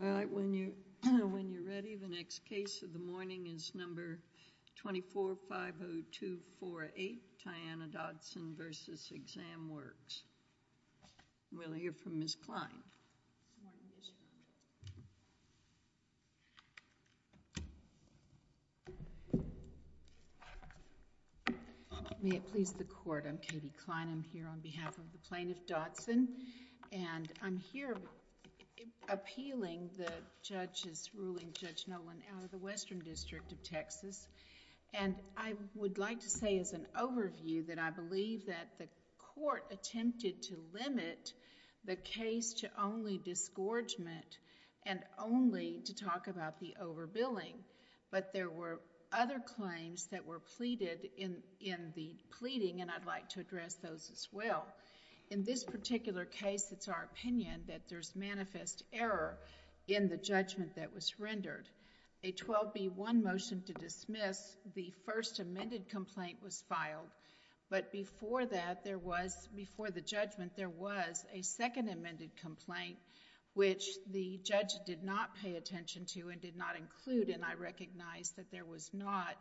All right, when you're ready, the next case of the morning is number 24-50248, Tiana Dodson v. ExamWorks. We'll hear from Ms. Klein. May it please the Court, I'm Katie Klein. I'm here on behalf of the plaintiff, Dodson. And I'm here appealing the judge's ruling, Judge Noland, out of the Western District of Texas. And I would like to say as an overview that I believe that the court attempted to limit the case to only disgorgement and only to talk about the overbilling. But there were other claims that were pleaded in the pleading, and I'd like to address those as well. In this particular case, it's our opinion that there's manifest error in the judgment that was rendered. A 12B1 motion to dismiss the first amended complaint was filed. But before that, there was, before the judgment, there was a second amended complaint, which the judge did not pay attention to and did not include. And I recognize that there was not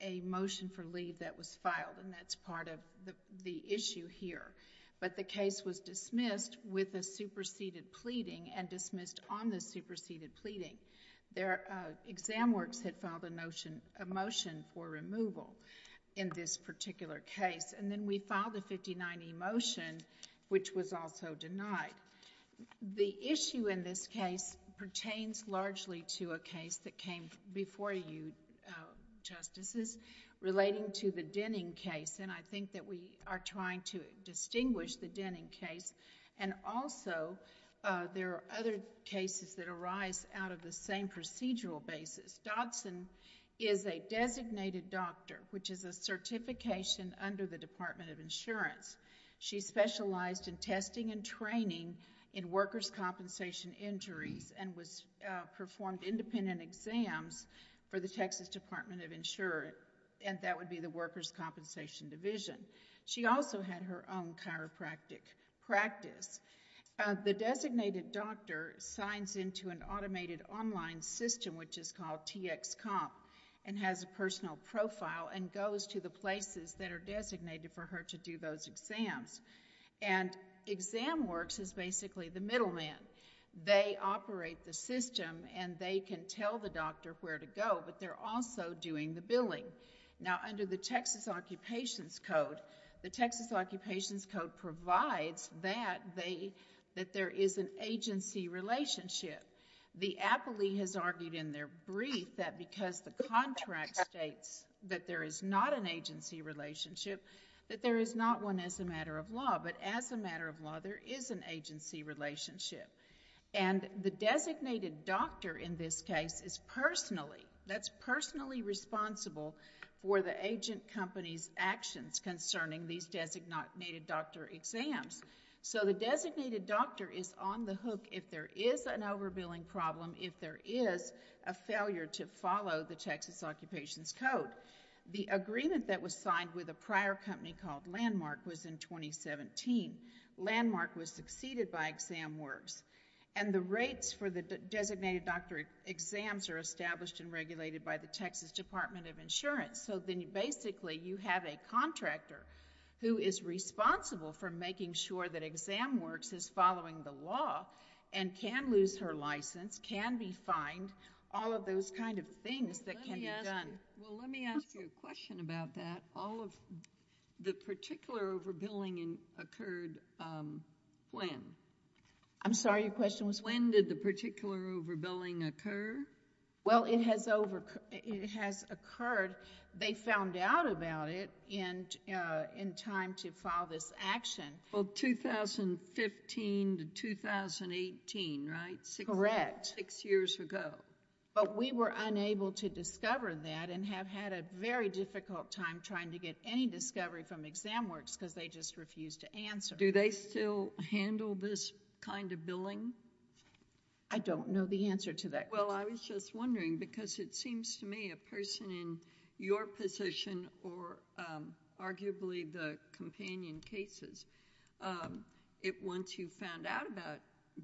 a motion for leave that was filed. And that's part of the issue here. But the case was dismissed with a superseded pleading and dismissed on the superseded pleading. ExamWorks had filed a motion for removal in this particular case. And then we filed a 59E motion, which was also denied. The issue in this case pertains largely to a case that came before you, Justices, relating to the Denning case. And I think that we are trying to distinguish the Denning case. And also, there are other cases that arise out of the same procedural basis. Dodson is a designated doctor, which is a certification under the Department of Insurance. She specialized in testing and training in workers' compensation injuries and performed independent exams for the Texas Department of Insurance, and that would be the workers' compensation division. She also had her own chiropractic practice. The designated doctor signs into an automated online system, which is called TxComp, and has a personal profile and goes to the places that are designated for her to do those exams. And ExamWorks is basically the middleman. They operate the system, and they can tell the doctor where to go, but they're also doing the billing. Now, under the Texas Occupations Code, the Texas Occupations Code provides that there is an agency relationship. The appellee has argued in their brief that because the contract states that there is not an agency relationship, that there is not one as a matter of law, but as a matter of law, there is an agency relationship. And the designated doctor in this case is personally responsible for the agent company's actions concerning these designated doctor exams. So the designated doctor is on the hook if there is an overbilling problem, if there is a failure to follow the Texas Occupations Code. The agreement that was signed with a prior company called Landmark was in 2017. Landmark was succeeded by ExamWorks. And the rates for the designated doctor exams are established and regulated by the Texas Department of Insurance. So then basically you have a contractor who is responsible for making sure that ExamWorks is following the law and can lose her license, can be fined, all of those kind of things that can be done. Well, let me ask you a question about that. All of the particular overbilling occurred when? I'm sorry, your question was? When did the particular overbilling occur? Well, it has occurred. They found out about it in time to file this action. Well, 2015 to 2018, right? Correct. Six years ago. But we were unable to discover that and have had a very difficult time trying to get any discovery from ExamWorks because they just refused to answer. Do they still handle this kind of billing? I don't know the answer to that question. Well, I was just wondering because it seems to me a person in your position or arguably the companion cases, once you found out about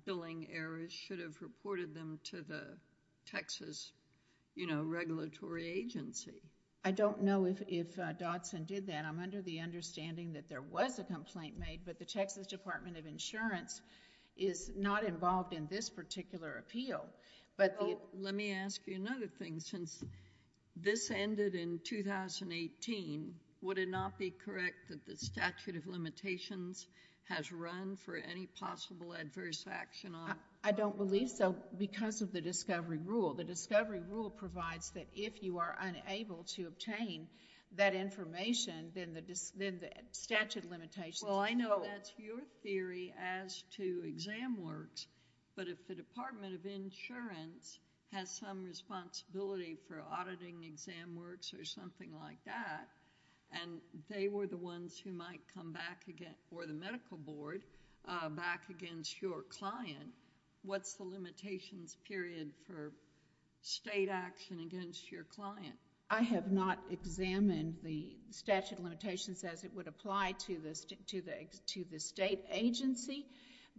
billing errors, should have reported them to the Texas, you know, regulatory agency. I don't know if Dodson did that. I'm under the understanding that there was a complaint made, but the Texas Department of Insurance is not involved in this particular appeal. Let me ask you another thing. Since this ended in 2018, would it not be correct that the statute of limitations has run for any possible adverse action on it? I don't believe so because of the discovery rule. The discovery rule provides that if you are unable to obtain that information, then the statute of limitations. Well, I know that's your theory as to ExamWorks, but if the Department of Insurance has some responsibility for auditing ExamWorks or something like that and they were the ones who might come back or the medical board back against your client, what's the limitations period for state action against your client? I have not examined the statute of limitations as it would apply to the state agency,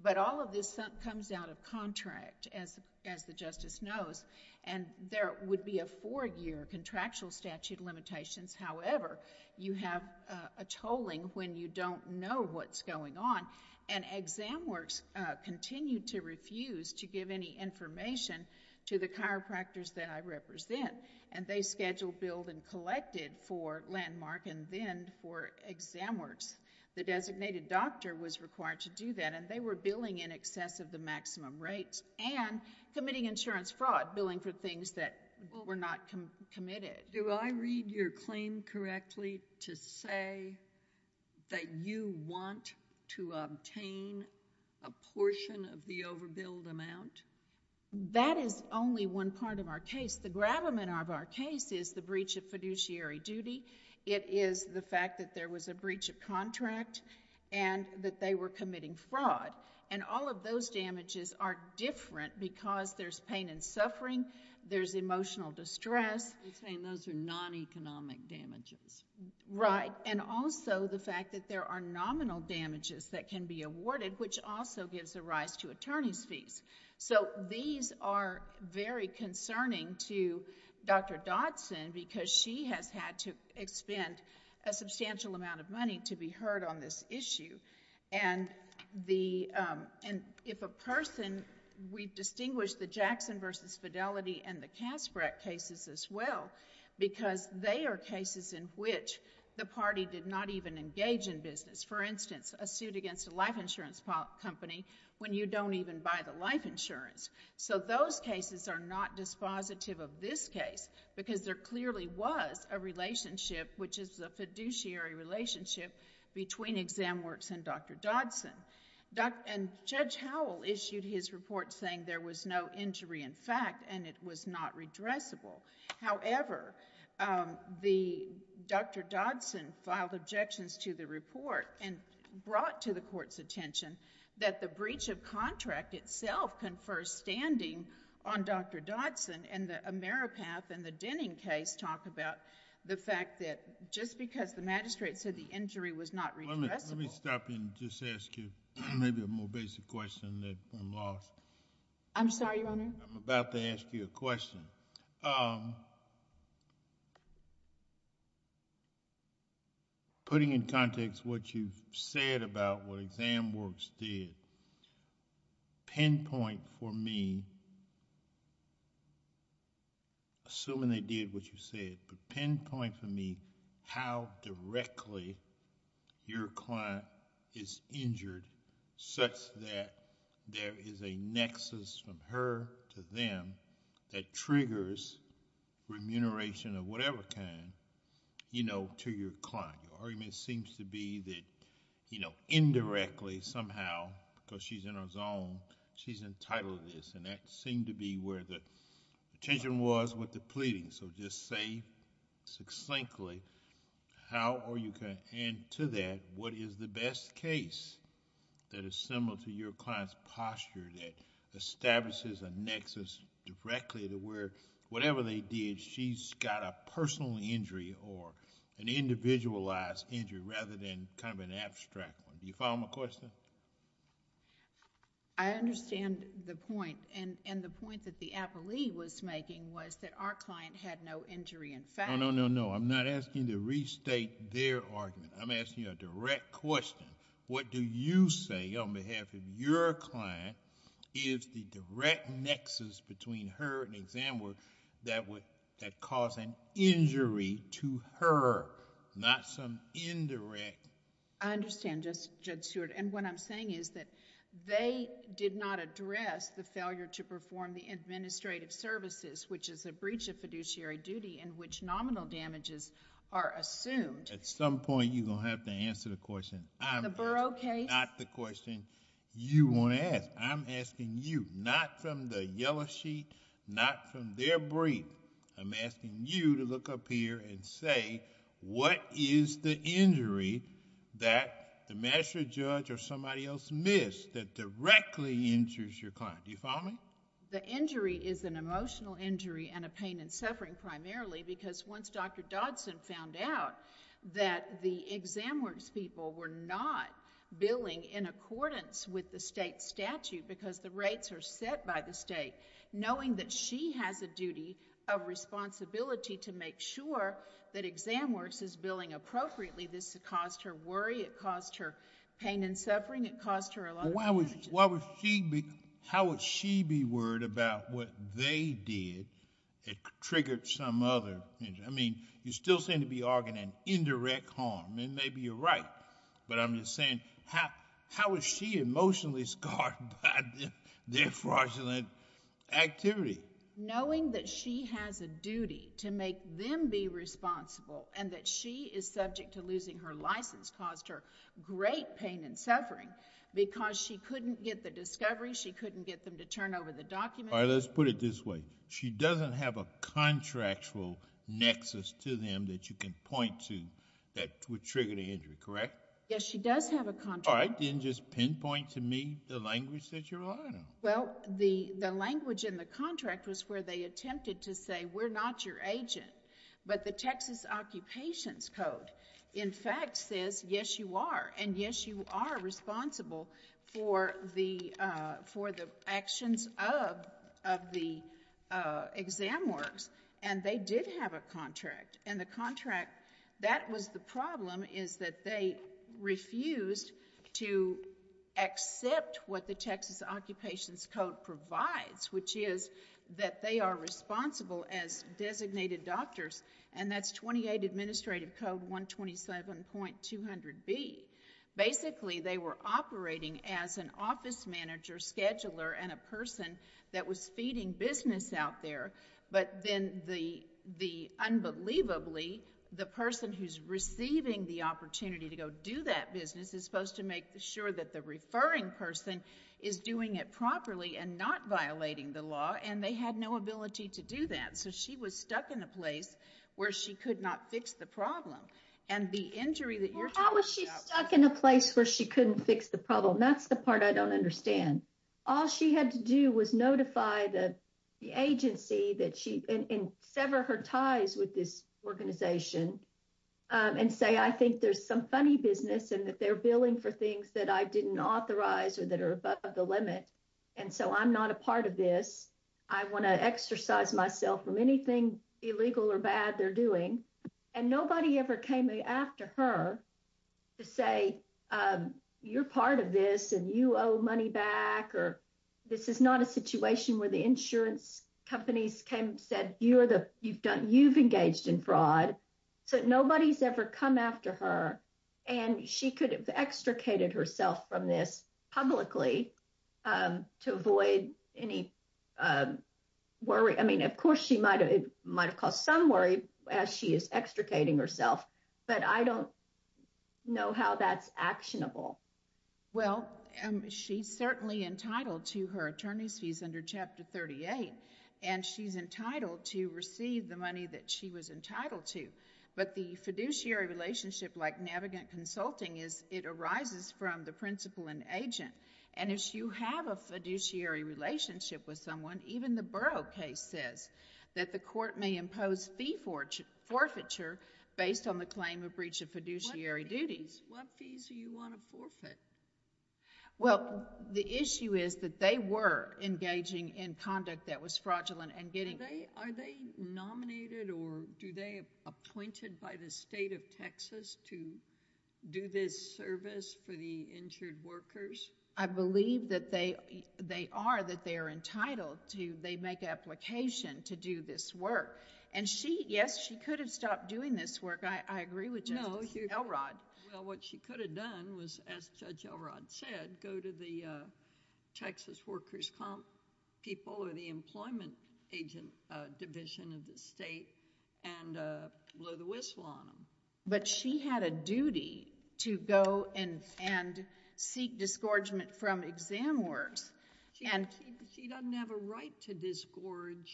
but all of this comes out of contract, as the justice knows, and there would be a four-year contractual statute of limitations. However, you have a tolling when you don't know what's going on, and ExamWorks continued to refuse to give any information to the chiropractors that I represent, and they scheduled, billed, and collected for Landmark and then for ExamWorks. The designated doctor was required to do that, and they were billing in excess of the maximum rates and committing insurance fraud, billing for things that were not committed. Do I read your claim correctly to say that you want to obtain a portion of the overbilled amount? That is only one part of our case. The gravamen of our case is the breach of fiduciary duty. It is the fact that there was a breach of contract and that they were committing fraud, and all of those damages are different because there's pain and suffering, there's emotional distress. You're saying those are non-economic damages. Right, and also the fact that there are nominal damages that can be awarded, which also gives a rise to attorney's fees. So these are very concerning to Dr. Dodson because she has had to expend a substantial amount of money to be heard on this issue. And if a person, we distinguish the Jackson v. Fidelity and the Casperet cases as well because they are cases in which the party did not even engage in business. For instance, a suit against a life insurance company when you don't even buy the life insurance. So those cases are not dispositive of this case because there clearly was a relationship, which is a fiduciary relationship, between ExamWorks and Dr. Dodson. And Judge Howell issued his report saying there was no injury in fact and it was not redressable. However, Dr. Dodson filed objections to the report and brought to the court's attention that the breach of contract itself confers standing on Dr. Dodson, and the Ameripath and the Denning case talk about the fact that just because the magistrate said the injury was not redressable. Let me stop and just ask you maybe a more basic question that I'm lost. I'm sorry, Your Honor? I'm about to ask you a question. Putting in context what you've said about what ExamWorks did, pinpoint for me, assuming they did what you said, but pinpoint for me how directly your client is injured such that there is a nexus from her to them that triggers remuneration of whatever kind to your client. Your argument seems to be that indirectly somehow, because she's in her zone, she's entitled to this, and that seemed to be where the attention was with the pleading. Just say succinctly, how are you going to end to that? What is the best case that is similar to your client's posture that establishes a nexus directly to where whatever they did, she's got a personal injury or an individualized injury rather than kind of an abstract one. Do you follow my question? I understand the point. The point that the appellee was making was that our client had no injury in fact. No, no, no, no. I'm not asking you to restate their argument. I'm asking you a direct question. What do you say on behalf of your client is the direct nexus between her and ExamWorks that caused an injury to her, not some indirect... I understand, Judge Stewart. What I'm saying is that they did not address the failure to perform the administrative services, which is a breach of fiduciary duty in which nominal damages are assumed. At some point, you're going to have to answer the question. In the Burrough case? Not the question you want to ask. I'm asking you, not from the yellow sheet, not from their brief. I'm asking you to look up here and say, what is the injury that the magistrate judge or somebody else missed that directly injures your client? Do you follow me? The injury is an emotional injury and a pain and suffering primarily because once Dr. Dodson found out that the ExamWorks people were not billing in accordance with the state statute because the rates are set by the state, knowing that she has a duty of responsibility to make sure that ExamWorks is billing appropriately. This caused her worry. It caused her pain and suffering. It caused her a lot of damages. How would she be worried about what they did that triggered some other injury? I mean, you still seem to be arguing an indirect harm, and maybe you're right, but I'm just saying how is she emotionally scarred by their fraudulent activity? Knowing that she has a duty to make them be responsible and that she is subject to losing her license caused her great pain and suffering because she couldn't get the discovery, she couldn't get them to turn over the documents. All right, let's put it this way. She doesn't have a contractual nexus to them that you can point to that would trigger the injury, correct? Yes, she does have a contract. All right, then just pinpoint to me the language that you're relying on. Well, the language in the contract was where they attempted to say, we're not your agent, but the Texas Occupations Code, in fact, says, yes, you are, and yes, you are responsible for the actions of the ExamWorks, and they did have a contract, and the contract that was the problem is that they refused to accept what the Texas Occupations Code provides, which is that they are responsible as designated doctors, and that's 28 Administrative Code 127.200B. Basically, they were operating as an office manager, scheduler, and a person that was feeding business out there, but then the unbelievably, the person who's receiving the opportunity to go do that business is supposed to make sure that the referring person is doing it properly and not violating the law, and they had no ability to do that, so she was stuck in a place where she could not fix the problem, and the injury that you're talking about was... Well, how was she stuck in a place where she couldn't fix the problem? That's the part I don't understand. All she had to do was notify the agency and sever her ties with this organization and say, I think there's some funny business and that they're billing for things that I didn't authorize or that are above the limit, and so I'm not a part of this. I want to exercise myself from anything illegal or bad they're doing, and nobody ever came after her to say, you're part of this and you owe money back, or this is not a situation where the insurance companies came and said, you've engaged in fraud, so nobody's ever come after her, and she could have extricated herself from this publicly to avoid any worry. I mean, of course it might have caused some worry as she is extricating herself, but I don't know how that's actionable. Well, she's certainly entitled to her attorney's fees under Chapter 38, and she's entitled to receive the money that she was entitled to, but the fiduciary relationship like navigant consulting is it arises from the principal and agent, and if you have a fiduciary relationship with someone, even the Burrough case says that the court may impose fee forfeiture based on the claim of breach of fiduciary duties. What fees do you want to forfeit? Well, the issue is that they were engaging in conduct that was fraudulent and getting... Are they nominated or do they appointed by the state of Texas to do this service for the injured workers? I believe that they are, that they are entitled to, they make an application to do this work, and she, yes, she could have stopped doing this work. I agree with Judge Elrod. Well, what she could have done was, as Judge Elrod said, go to the Texas workers' comp people or the employment agent division of the state and blow the whistle on them. But she had a duty to go and seek disgorgement from exam workers. She doesn't have a right to disgorge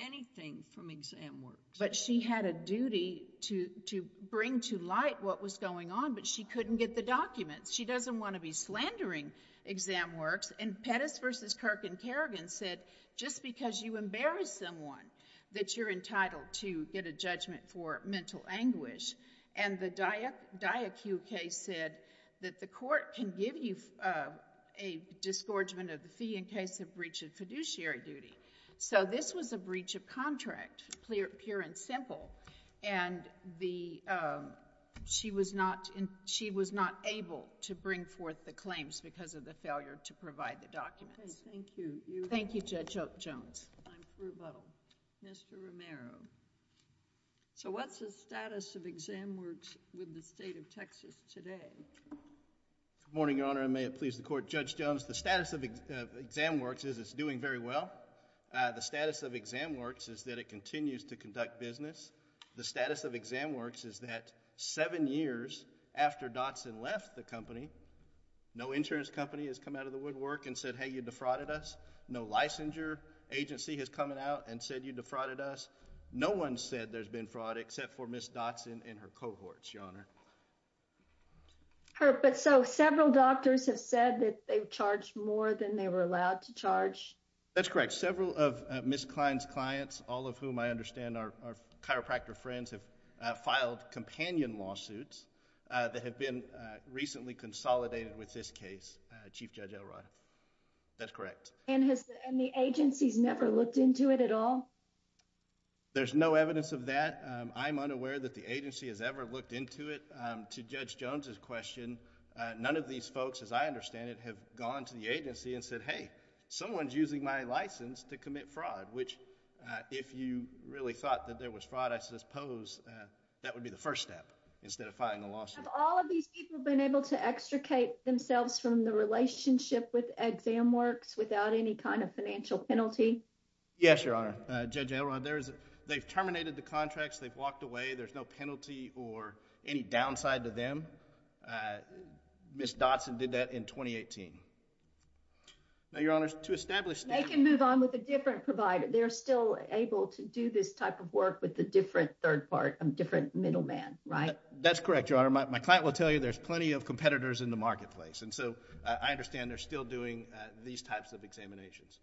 anything from exam workers. But she had a duty to bring to light what was going on, but she couldn't get the documents. She doesn't want to be slandering exam workers. And Pettis v. Kirk and Kerrigan said, just because you embarrass someone, that you're entitled to get a judgment for mental anguish. And the Diakuk case said that the court can give you a disgorgement of the fee in case of breach of fiduciary duty. So this was a breach of contract, pure and simple, and she was not able to bring forth the claims because of the failure to provide the documents. Thank you. Thank you, Judge Jones. I'm for rebuttal. Mr. Romero. So what's the status of ExamWorks with the state of Texas today? Good morning, Your Honor, and may it please the court. Judge Jones, the status of ExamWorks is it's doing very well. The status of ExamWorks is that it continues to conduct business. The status of ExamWorks is that seven years after Dodson left the company, no insurance company has come out of the woodwork and said, hey, you defrauded us. No licensure agency has come out and said you defrauded us. No one said there's been fraud except for Ms. Dodson and her cohorts, Your Honor. But so several doctors have said that they've charged more than they were allowed to charge. That's correct. Several of Ms. Klein's clients, all of whom I understand are chiropractor friends, have filed companion lawsuits that have been recently consolidated with this case, Chief Judge Elrod. That's correct. And the agency's never looked into it at all? There's no evidence of that. I'm unaware that the agency has ever looked into it. To Judge Jones's question, none of these folks, as I understand it, have gone to the agency and said, hey, someone's using my license to commit fraud, which if you really thought that there was fraud, I suppose that would be the first step instead of filing a lawsuit. Have all of these people been able to extricate themselves from the relationship with ExamWorks without any kind of financial penalty? Yes, Your Honor. Judge Elrod, they've terminated the contracts. They've walked away. There's no penalty or any downside to them. Ms. Dodson did that in 2018. Now, Your Honor, to establish standards— They can move on with a different provider. They're still able to do this type of work with a different third part, a different middleman, right? That's correct, Your Honor. My client will tell you there's plenty of competitors in the marketplace. And so I understand they're still doing these types of examinations.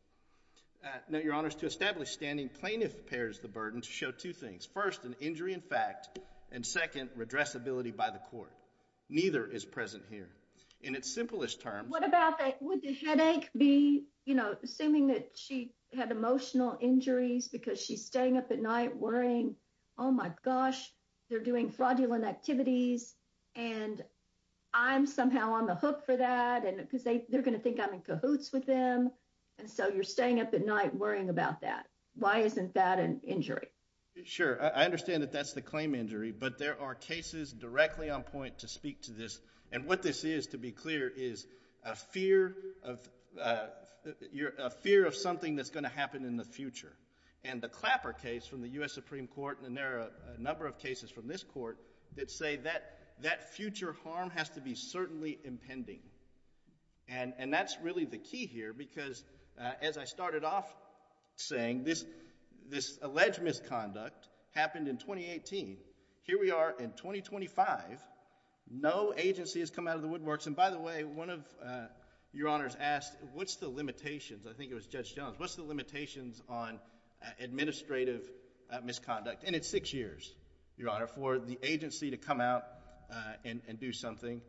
Now, Your Honor, to establish standing plaintiff bears the burden to show two things. First, an injury in fact, and second, redressability by the court. Neither is present here. In its simplest terms— What about that? Would the headache be, you know, assuming that she had emotional injuries because she's staying up at night worrying, oh, my gosh, they're doing fraudulent activities and I'm somehow on the hook for that because they're going to think I'm in cahoots with them. And so you're staying up at night worrying about that. Why isn't that an injury? Sure. I understand that that's the claim injury. But there are cases directly on point to speak to this. And what this is, to be clear, is a fear of something that's going to happen in the future. And the Clapper case from the U.S. Supreme Court, and there are a number of cases from this court that say that future harm has to be certainly impending. And that's really the key here because, as I started off saying, this alleged misconduct happened in 2018. Here we are in 2025. No agency has come out of the woodworks. And by the way, one of Your Honors asked, what's the limitations? I think it was Judge Jones. What's the limitations on administrative misconduct? And it's six years, Your Honor, for the agency to come out and do something.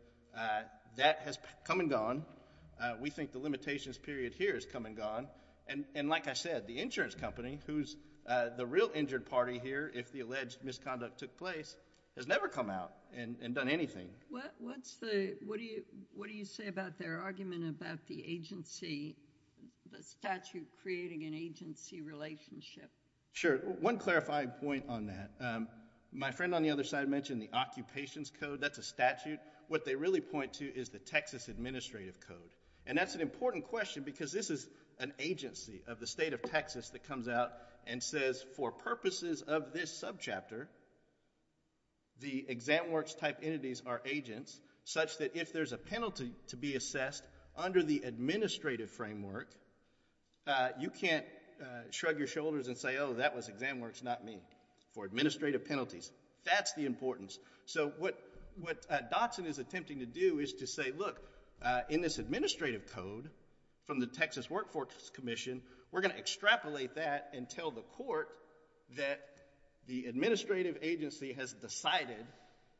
That has come and gone. We think the limitations period here has come and gone. And like I said, the insurance company, who's the real injured party here if the alleged misconduct took place, has never come out and done anything. What do you say about their argument about the agency, the statute creating an agency relationship? Sure. One clarifying point on that. My friend on the other side mentioned the Occupations Code. That's a statute. What they really point to is the Texas Administrative Code. And that's an important question because this is an agency of the state of Texas that comes out and says, for purposes of this subchapter, the exam works type entities are agents, such that if there's a penalty to be assessed under the administrative framework, you can't shrug your shoulders and say, oh, that was exam works, not me, for administrative penalties. That's the importance. So what Dotson is attempting to do is to say, look, in this administrative code from the Texas Workforce Commission, we're going to extrapolate that and tell the court that the administrative agency has decided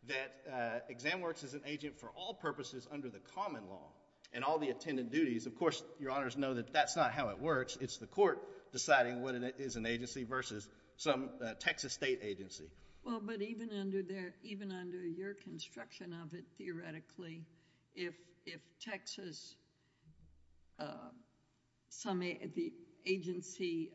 that exam works is an agent for all purposes under the common law and all the attendant duties. Of course, Your Honors know that that's not how it works. It's the court deciding what is an agency versus some Texas state agency. Well, but even under your construction of it, theoretically, if Texas, the agency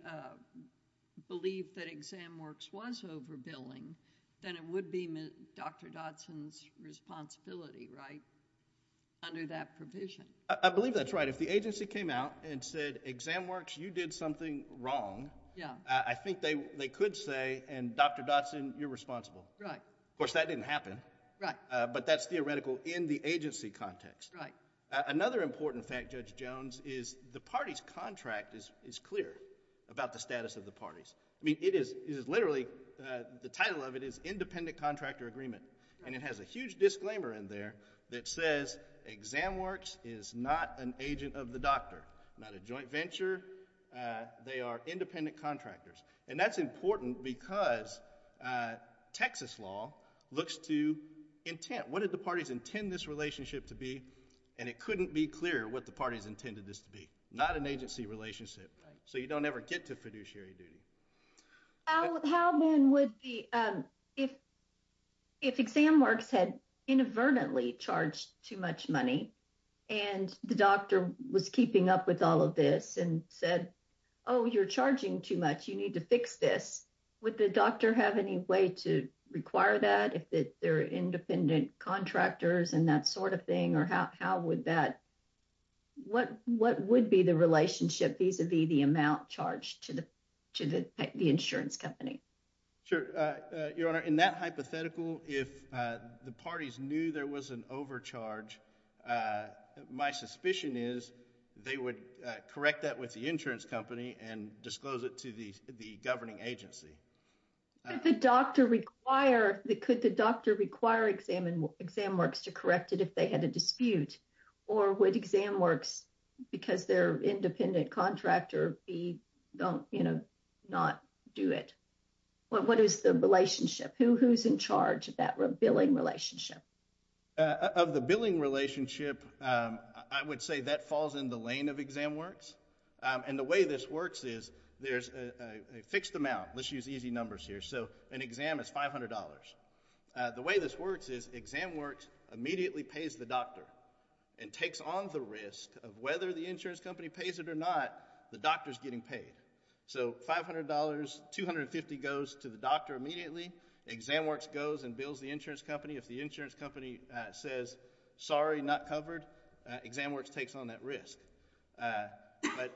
believed that exam works was overbilling, then it would be Dr. Dotson's responsibility, right, under that provision? I believe that's right. If the agency came out and said, exam works, you did something wrong, I think they could say, and Dr. Dotson, you're responsible. Right. Of course, that didn't happen. Right. But that's theoretical in the agency context. Right. Another important fact, Judge Jones, is the party's contract is clear about the status of the parties. I mean, it is literally, the title of it is independent contractor agreement, and it has a huge disclaimer in there that says exam works is not an agent of the doctor, not a joint venture. They are independent contractors. And that's important because Texas law looks to intent. What did the parties intend this relationship to be? And it couldn't be clearer what the parties intended this to be. Not an agency relationship. Right. So you don't ever get to fiduciary duty. How then would the, if exam works had inadvertently charged too much money, and the doctor was keeping up with all of this and said, oh, you're charging too much, you need to fix this, would the doctor have any way to require that if they're independent contractors and that sort of thing? Or how would that, what would be the relationship vis-a-vis the amount charged to the insurance company? Sure. Your Honor, in that hypothetical, if the parties knew there was an overcharge, my suspicion is they would correct that with the insurance company and disclose it to the governing agency. Could the doctor require exam works to correct it if they had a dispute? Or would exam works, because they're independent contractor, be, don't, you know, not do it? What is the relationship? Who's in charge of that billing relationship? Of the billing relationship, I would say that falls in the lane of exam works. And the way this works is there's a fixed amount. Let's use easy numbers here. So an exam is $500. The way this works is exam works immediately pays the doctor and takes on the risk of whether the insurance company pays it or not, the doctor's getting paid. So $500, $250 goes to the doctor immediately. Exam works goes and bills the insurance company. If the insurance company says sorry, not covered, exam works takes on that risk. But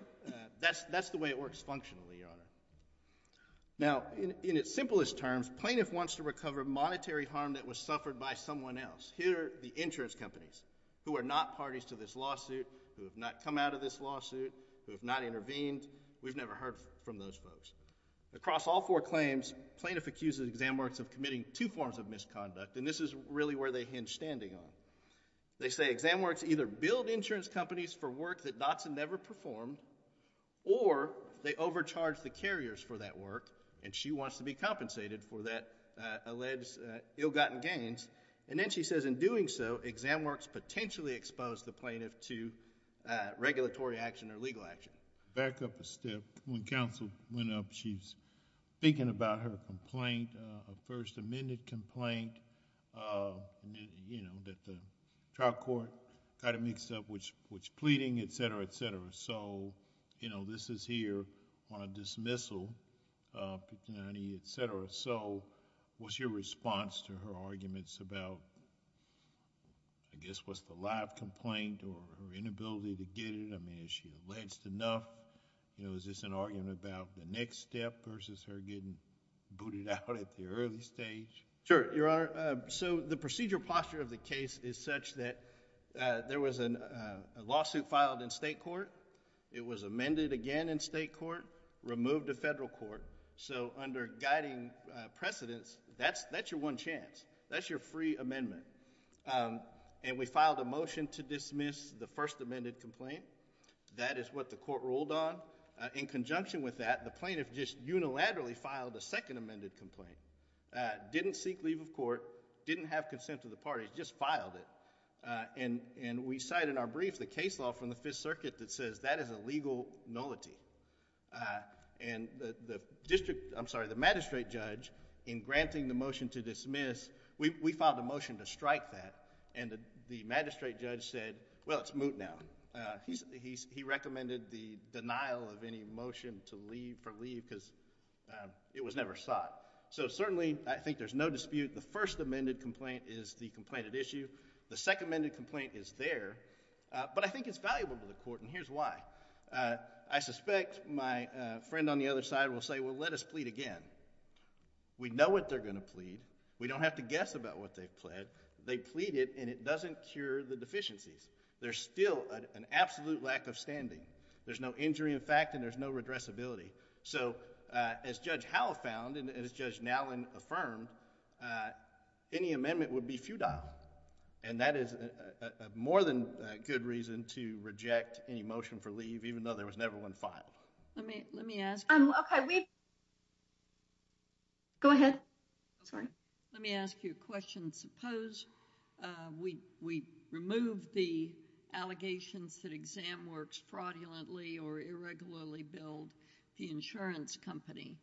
that's the way it works functionally, Your Honor. Now, in its simplest terms, plaintiff wants to recover monetary harm that was suffered by someone else. Here are the insurance companies who are not parties to this lawsuit, who have not come out of this lawsuit, who have not intervened. We've never heard from those folks. Across all four claims, plaintiff accuses exam works of committing two forms of misconduct, and this is really where they hinge standing on. They say exam works either billed insurance companies for work that Dotson never performed or they overcharged the carriers for that work, and she wants to be compensated for that alleged ill-gotten gains. And then she says in doing so, exam works potentially exposed the plaintiff to regulatory action or legal action. Back up a step. When counsel went up, she's thinking about her complaint, a first amended complaint, you know, that the trial court kind of mixed up which pleading, et cetera, et cetera. So, you know, this is here on a dismissal, et cetera. So what's your response to her arguments about, I guess, what's the live complaint or her inability to get it? I mean, is she alleged enough? You know, is this an argument about the next step versus her getting booted out at the early stage? Sure, Your Honor. So the procedural posture of the case is such that there was a lawsuit filed in state court. It was amended again in state court, removed to federal court. So under guiding precedents, that's your one chance. That's your free amendment. And we filed a motion to dismiss the first amended complaint. That is what the court ruled on. In conjunction with that, the plaintiff just unilaterally filed a second amended complaint, didn't seek leave of court, didn't have consent of the parties, just filed it. And we cite in our brief the case law from the Fifth Circuit that says that is a legal nullity. And the magistrate judge in granting the motion to dismiss, we filed a motion to strike that, and the magistrate judge said, well, it's moot now. He recommended the denial of any motion to leave for leave because it was never sought. So certainly I think there's no dispute. The first amended complaint is the complainant issue. The second amended complaint is there. But I think it's valuable to the court, and here's why. I suspect my friend on the other side will say, well, let us plead again. We know what they're going to plead. We don't have to guess about what they've pled. They plead it, and it doesn't cure the deficiencies. There's still an absolute lack of standing. There's no injury in fact, and there's no redressability. So as Judge Howell found and as Judge Nallen affirmed, any amendment would be futile. And that is more than a good reason to reject any motion for leave, even though there was never one filed. Let me ask you a question. Suppose we remove the allegations that Exam Works fraudulently or irregularly billed the insurance company.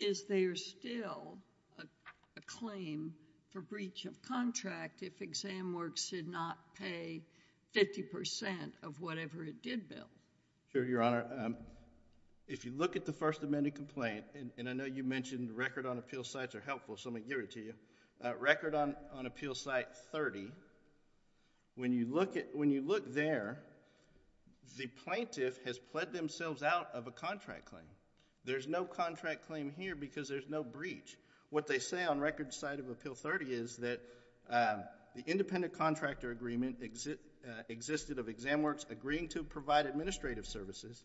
Is there still a claim for breach of contract if Exam Works did not pay 50% of whatever it did bill? Sure, Your Honor. If you look at the first amended complaint, and I know you mentioned record on appeal sites are helpful, so let me give it to you, record on appeal site 30, when you look there, the plaintiff has pled themselves out of a contract claim. There's no contract claim here because there's no breach. What they say on record site of appeal 30 is that the independent contractor agreement existed of Exam Works agreeing to provide administrative services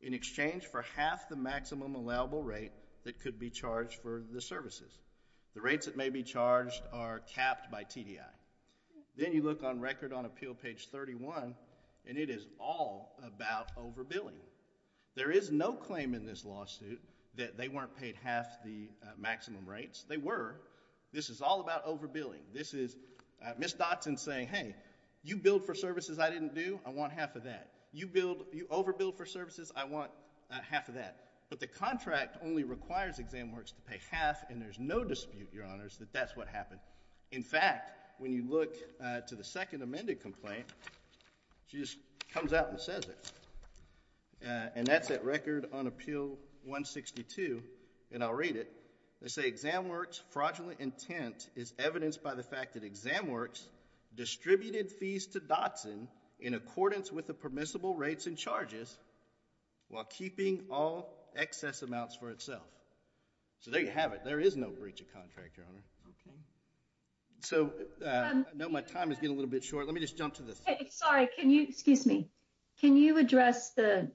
in exchange for half the maximum allowable rate that could be charged for the services. The rates that may be charged are capped by TDI. Then you look on record on appeal page 31, and it is all about overbilling. There is no claim in this lawsuit that they weren't paid half the maximum rates. They were. This is all about overbilling. This is Ms. Dotson saying, hey, you billed for services I didn't do. I want half of that. You overbilled for services. I want half of that. But the contract only requires Exam Works to pay half, and there's no dispute, Your Honors, that that's what happened. In fact, when you look to the second amended complaint, she just comes out and says it, and that's at record on appeal 162, and I'll read it. They say Exam Works fraudulent intent is evidenced by the fact that Exam Works distributed fees to Dotson in accordance with the permissible rates and charges while keeping all excess amounts for itself. So there you have it. There is no breach of contract, Your Honor. Okay. So I know my time is getting a little bit short. Let me just jump to this. Sorry. Excuse me. Can you address the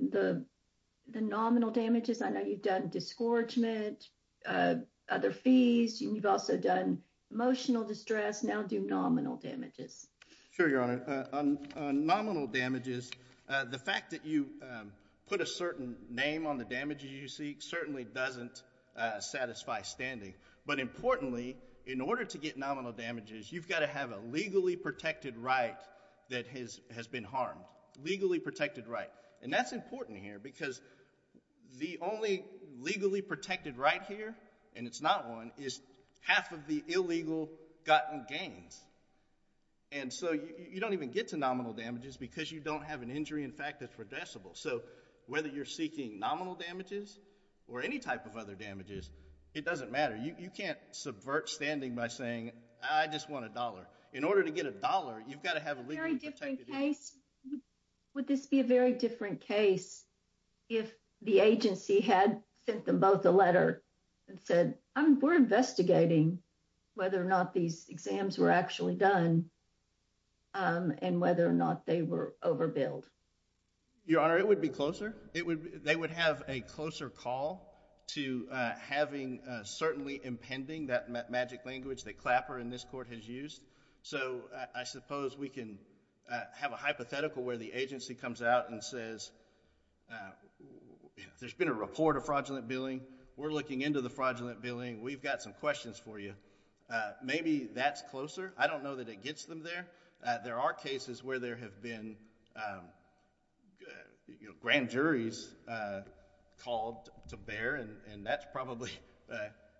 nominal damages? I know you've done disgorgement, other fees, and you've also done emotional distress. Now do nominal damages. Sure, Your Honor. On nominal damages, the fact that you put a certain name on the damages you seek certainly doesn't satisfy standing. But importantly, in order to get nominal damages, you've got to have a legally protected right that has been harmed. Legally protected right. And that's important here because the only legally protected right here, and it's not one, is half of the illegal gotten gains. And so you don't even get to nominal damages because you don't have an injury in fact that's redressable. So whether you're seeking nominal damages or any type of other damages, it doesn't matter. You can't subvert standing by saying, I just want a dollar. In order to get a dollar, you've got to have a legally protected right. Would this be a very different case if the agency had sent them both a letter and said, we're investigating whether or not these exams were actually done and whether or not they were overbilled? Your Honor, it would be closer. They would have a closer call to having certainly impending that magic language that Clapper in this court has used. So I suppose we can have a hypothetical where the agency comes out and says, there's been a report of fraudulent billing. We're looking into the fraudulent billing. We've got some questions for you. Maybe that's closer. I don't know that it gets them there. There are cases where there have been grand juries called to bear, and that's probably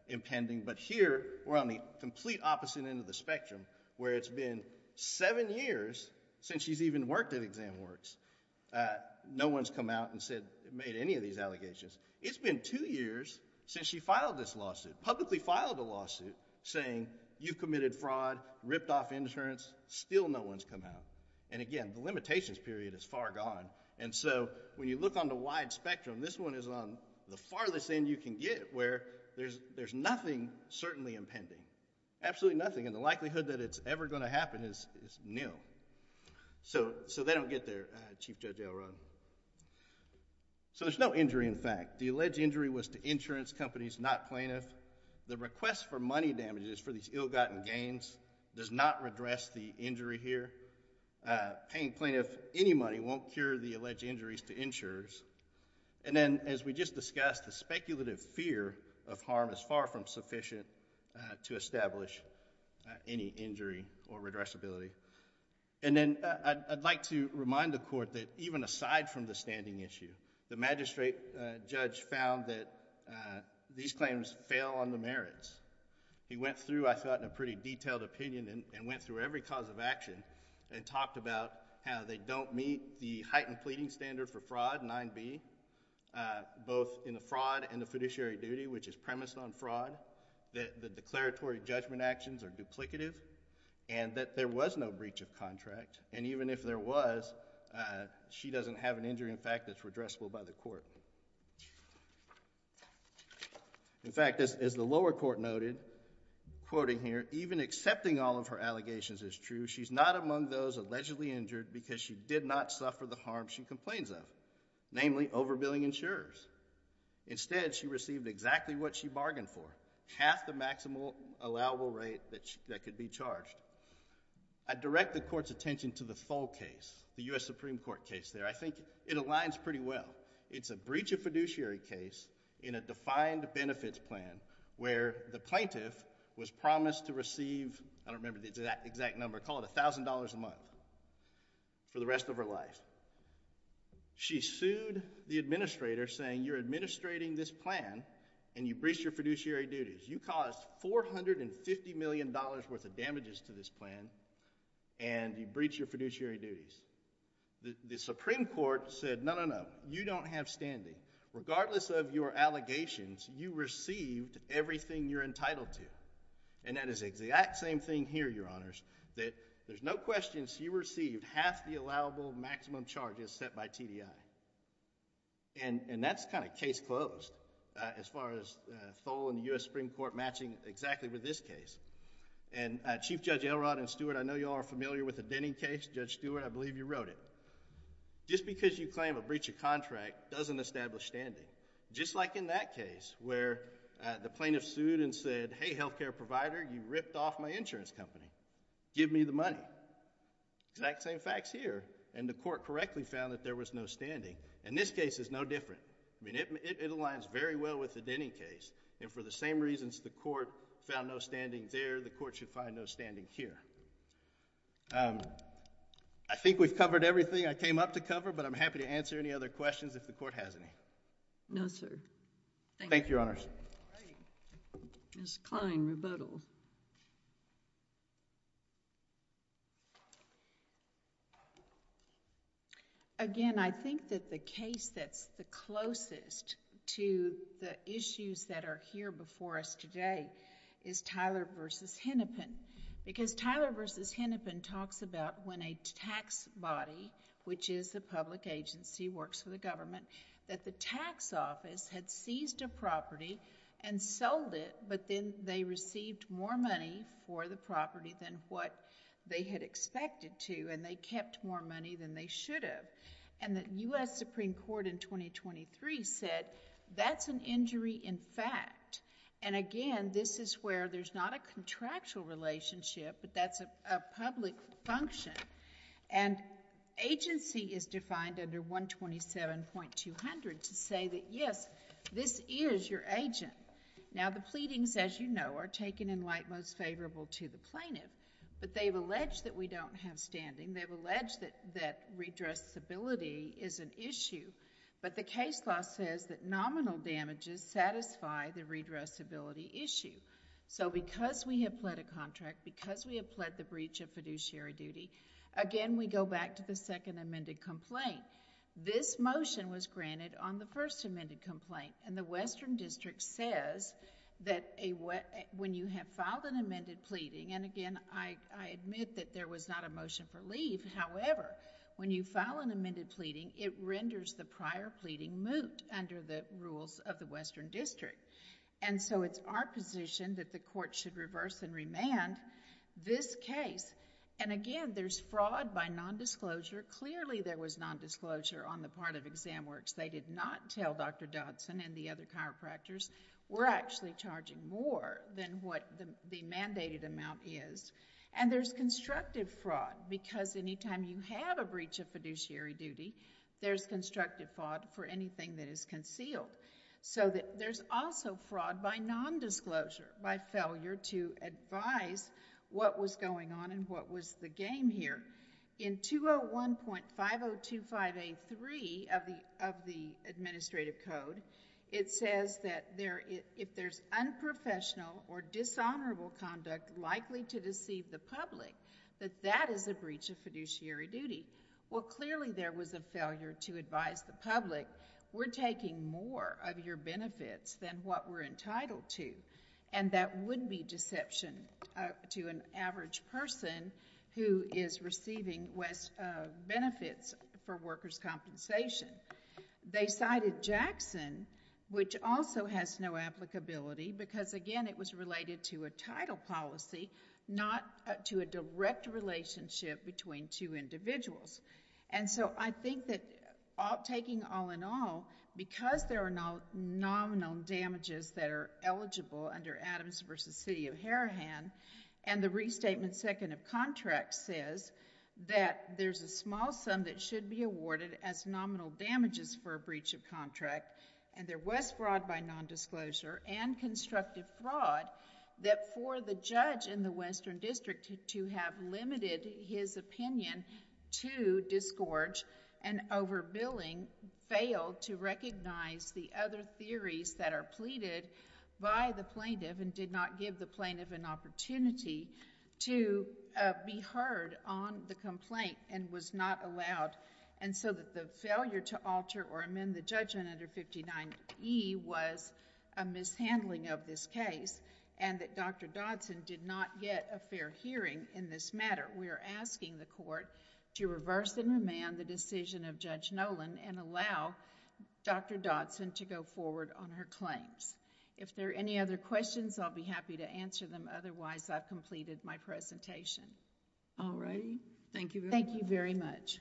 impending. But here, we're on the complete opposite end of the spectrum, where it's been seven years since she's even worked at Exam Works. No one's come out and made any of these allegations. It's been two years since she filed this lawsuit, publicly filed a lawsuit, saying you've committed fraud, ripped off insurance. Still no one's come out. And again, the limitations period is far gone. And so when you look on the wide spectrum, this one is on the farthest end you can get, where there's nothing certainly impending, absolutely nothing. And the likelihood that it's ever going to happen is nil. So they don't get there, Chief Judge Elrod. So there's no injury, in fact. The alleged injury was to insurance companies, not plaintiffs. The request for money damages for these ill-gotten gains does not redress the injury here. Paying plaintiffs any money won't cure the alleged injuries to insurers. And then, as we just discussed, the speculative fear of harm is far from sufficient to establish any injury or redressability. And then I'd like to remind the Court that even aside from the standing issue, the magistrate judge found that these claims fail on the merits. He went through, I thought, in a pretty detailed opinion and went through every cause of action and talked about how they don't meet the heightened pleading standard for fraud, 9B, both in the fraud and the fiduciary duty, which is premised on fraud, that the declaratory judgment actions are duplicative, and that there was no breach of contract. And even if there was, she doesn't have an injury, in fact, that's redressable by the Court. In fact, as the lower court noted, quoting here, even accepting all of her allegations is true. She's not among those allegedly injured because she did not suffer the harm she complains of, namely overbilling insurers. Instead, she received exactly what she bargained for, half the maximum allowable rate that could be charged. I direct the Court's attention to the Thull case, the U.S. Supreme Court case there. I think it aligns pretty well. It's a breach of fiduciary case in a defined benefits plan where the plaintiff was promised to receive, I don't remember the exact number, call it $1,000 a month, for the rest of her life. She sued the administrator saying, you're administrating this plan, and you breached your fiduciary duties. You caused $450 million worth of damages to this plan, and you breached your fiduciary duties. The Supreme Court said, no, no, no, you don't have standing. Regardless of your allegations, you received everything you're entitled to. And that is the exact same thing here, Your Honors, that there's no question she received half the allowable maximum charges set by TDI. And that's kind of case closed as far as Thull and the U.S. Supreme Court matching exactly with this case. And Chief Judge Elrod and Stewart, I know you all are familiar with the Denny case. Judge Stewart, I believe you wrote it. Just because you claim a breach of contract doesn't establish standing. Just like in that case where the plaintiff sued and said, hey, health care provider, you ripped off my insurance company. Give me the money. Exact same facts here. And the court correctly found that there was no standing. And this case is no different. I mean, it aligns very well with the Denny case. And for the same reasons the court found no standing there, the court should find no standing here. I think we've covered everything I came up to cover, but I'm happy to answer any other questions if the court has any. No, sir. Thank you, Your Honors. Ms. Kline, rebuttal. Again, I think that the case that's the closest to the issues that are here before us today is Tyler v. Hennepin. Because Tyler v. Hennepin talks about when a tax body, which is the public agency, works for the government, that the tax office had seized a property and sold it, but then they received more money for the property than what they had expected to, and they kept more money than they should have. And the U.S. Supreme Court in 2023 said that's an injury in fact. And again, this is where there's not a contractual relationship, but that's a public function. And agency is defined under 127.200 to say that, yes, this is your agent. Now, the pleadings, as you know, are taken in light most favorable to the plaintiff. But they've alleged that we don't have standing. They've alleged that redressability is an issue. But the case law says that nominal damages satisfy the redressability issue. So because we have pled a contract, because we have pled the breach of fiduciary duty, again, we go back to the second amended complaint. This motion was granted on the first amended complaint. And the Western District says that when you have filed an amended pleading, and again, I admit that there was not a motion for leave. However, when you file an amended pleading, it renders the prior pleading moot under the rules of the Western District. And so it's our position that the court should reverse and remand this case. And again, there's fraud by nondisclosure. Clearly, there was nondisclosure on the part of Exam Works. They did not tell Dr. Dodson and the other chiropractors, we're actually charging more than what the mandated amount is. And there's constructive fraud, because any time you have a breach of fiduciary duty, there's constructive fraud for anything that is concealed. So there's also fraud by nondisclosure, by failure to advise what was going on and what was the game here. In 201.5025A3 of the administrative code, it says that if there's unprofessional or dishonorable conduct likely to deceive the public, that that is a breach of fiduciary duty. Well, clearly there was a failure to advise the public, we're taking more of your benefits than what we're entitled to. And that would be deception to an average person who is receiving benefits for workers' compensation. They cited Jackson, which also has no applicability, because, again, it was related to a title policy, not to a direct relationship between two individuals. I think that taking all in all, because there are nominal damages that are eligible under Adams v. City of Harahan, and the restatement second of contract says that there's a small sum that should be awarded as nominal damages for a breach of contract, and there was fraud by nondisclosure and constructive fraud that for the judge in the Western District to have limited his opinion to disgorge and overbilling, failed to recognize the other theories that are pleaded by the plaintiff and did not give the plaintiff an opportunity to be heard on the complaint and was not allowed. And so that the failure to alter or amend the judgment under 59E was a mishandling of this case, and that Dr. Dodson did not get a fair hearing in this matter. We are asking the court to reverse and remand the decision of Judge Nolan and allow Dr. Dodson to go forward on her claims. If there are any other questions, I'll be happy to answer them, otherwise I've completed my presentation. All right. Thank you. Thank you very much.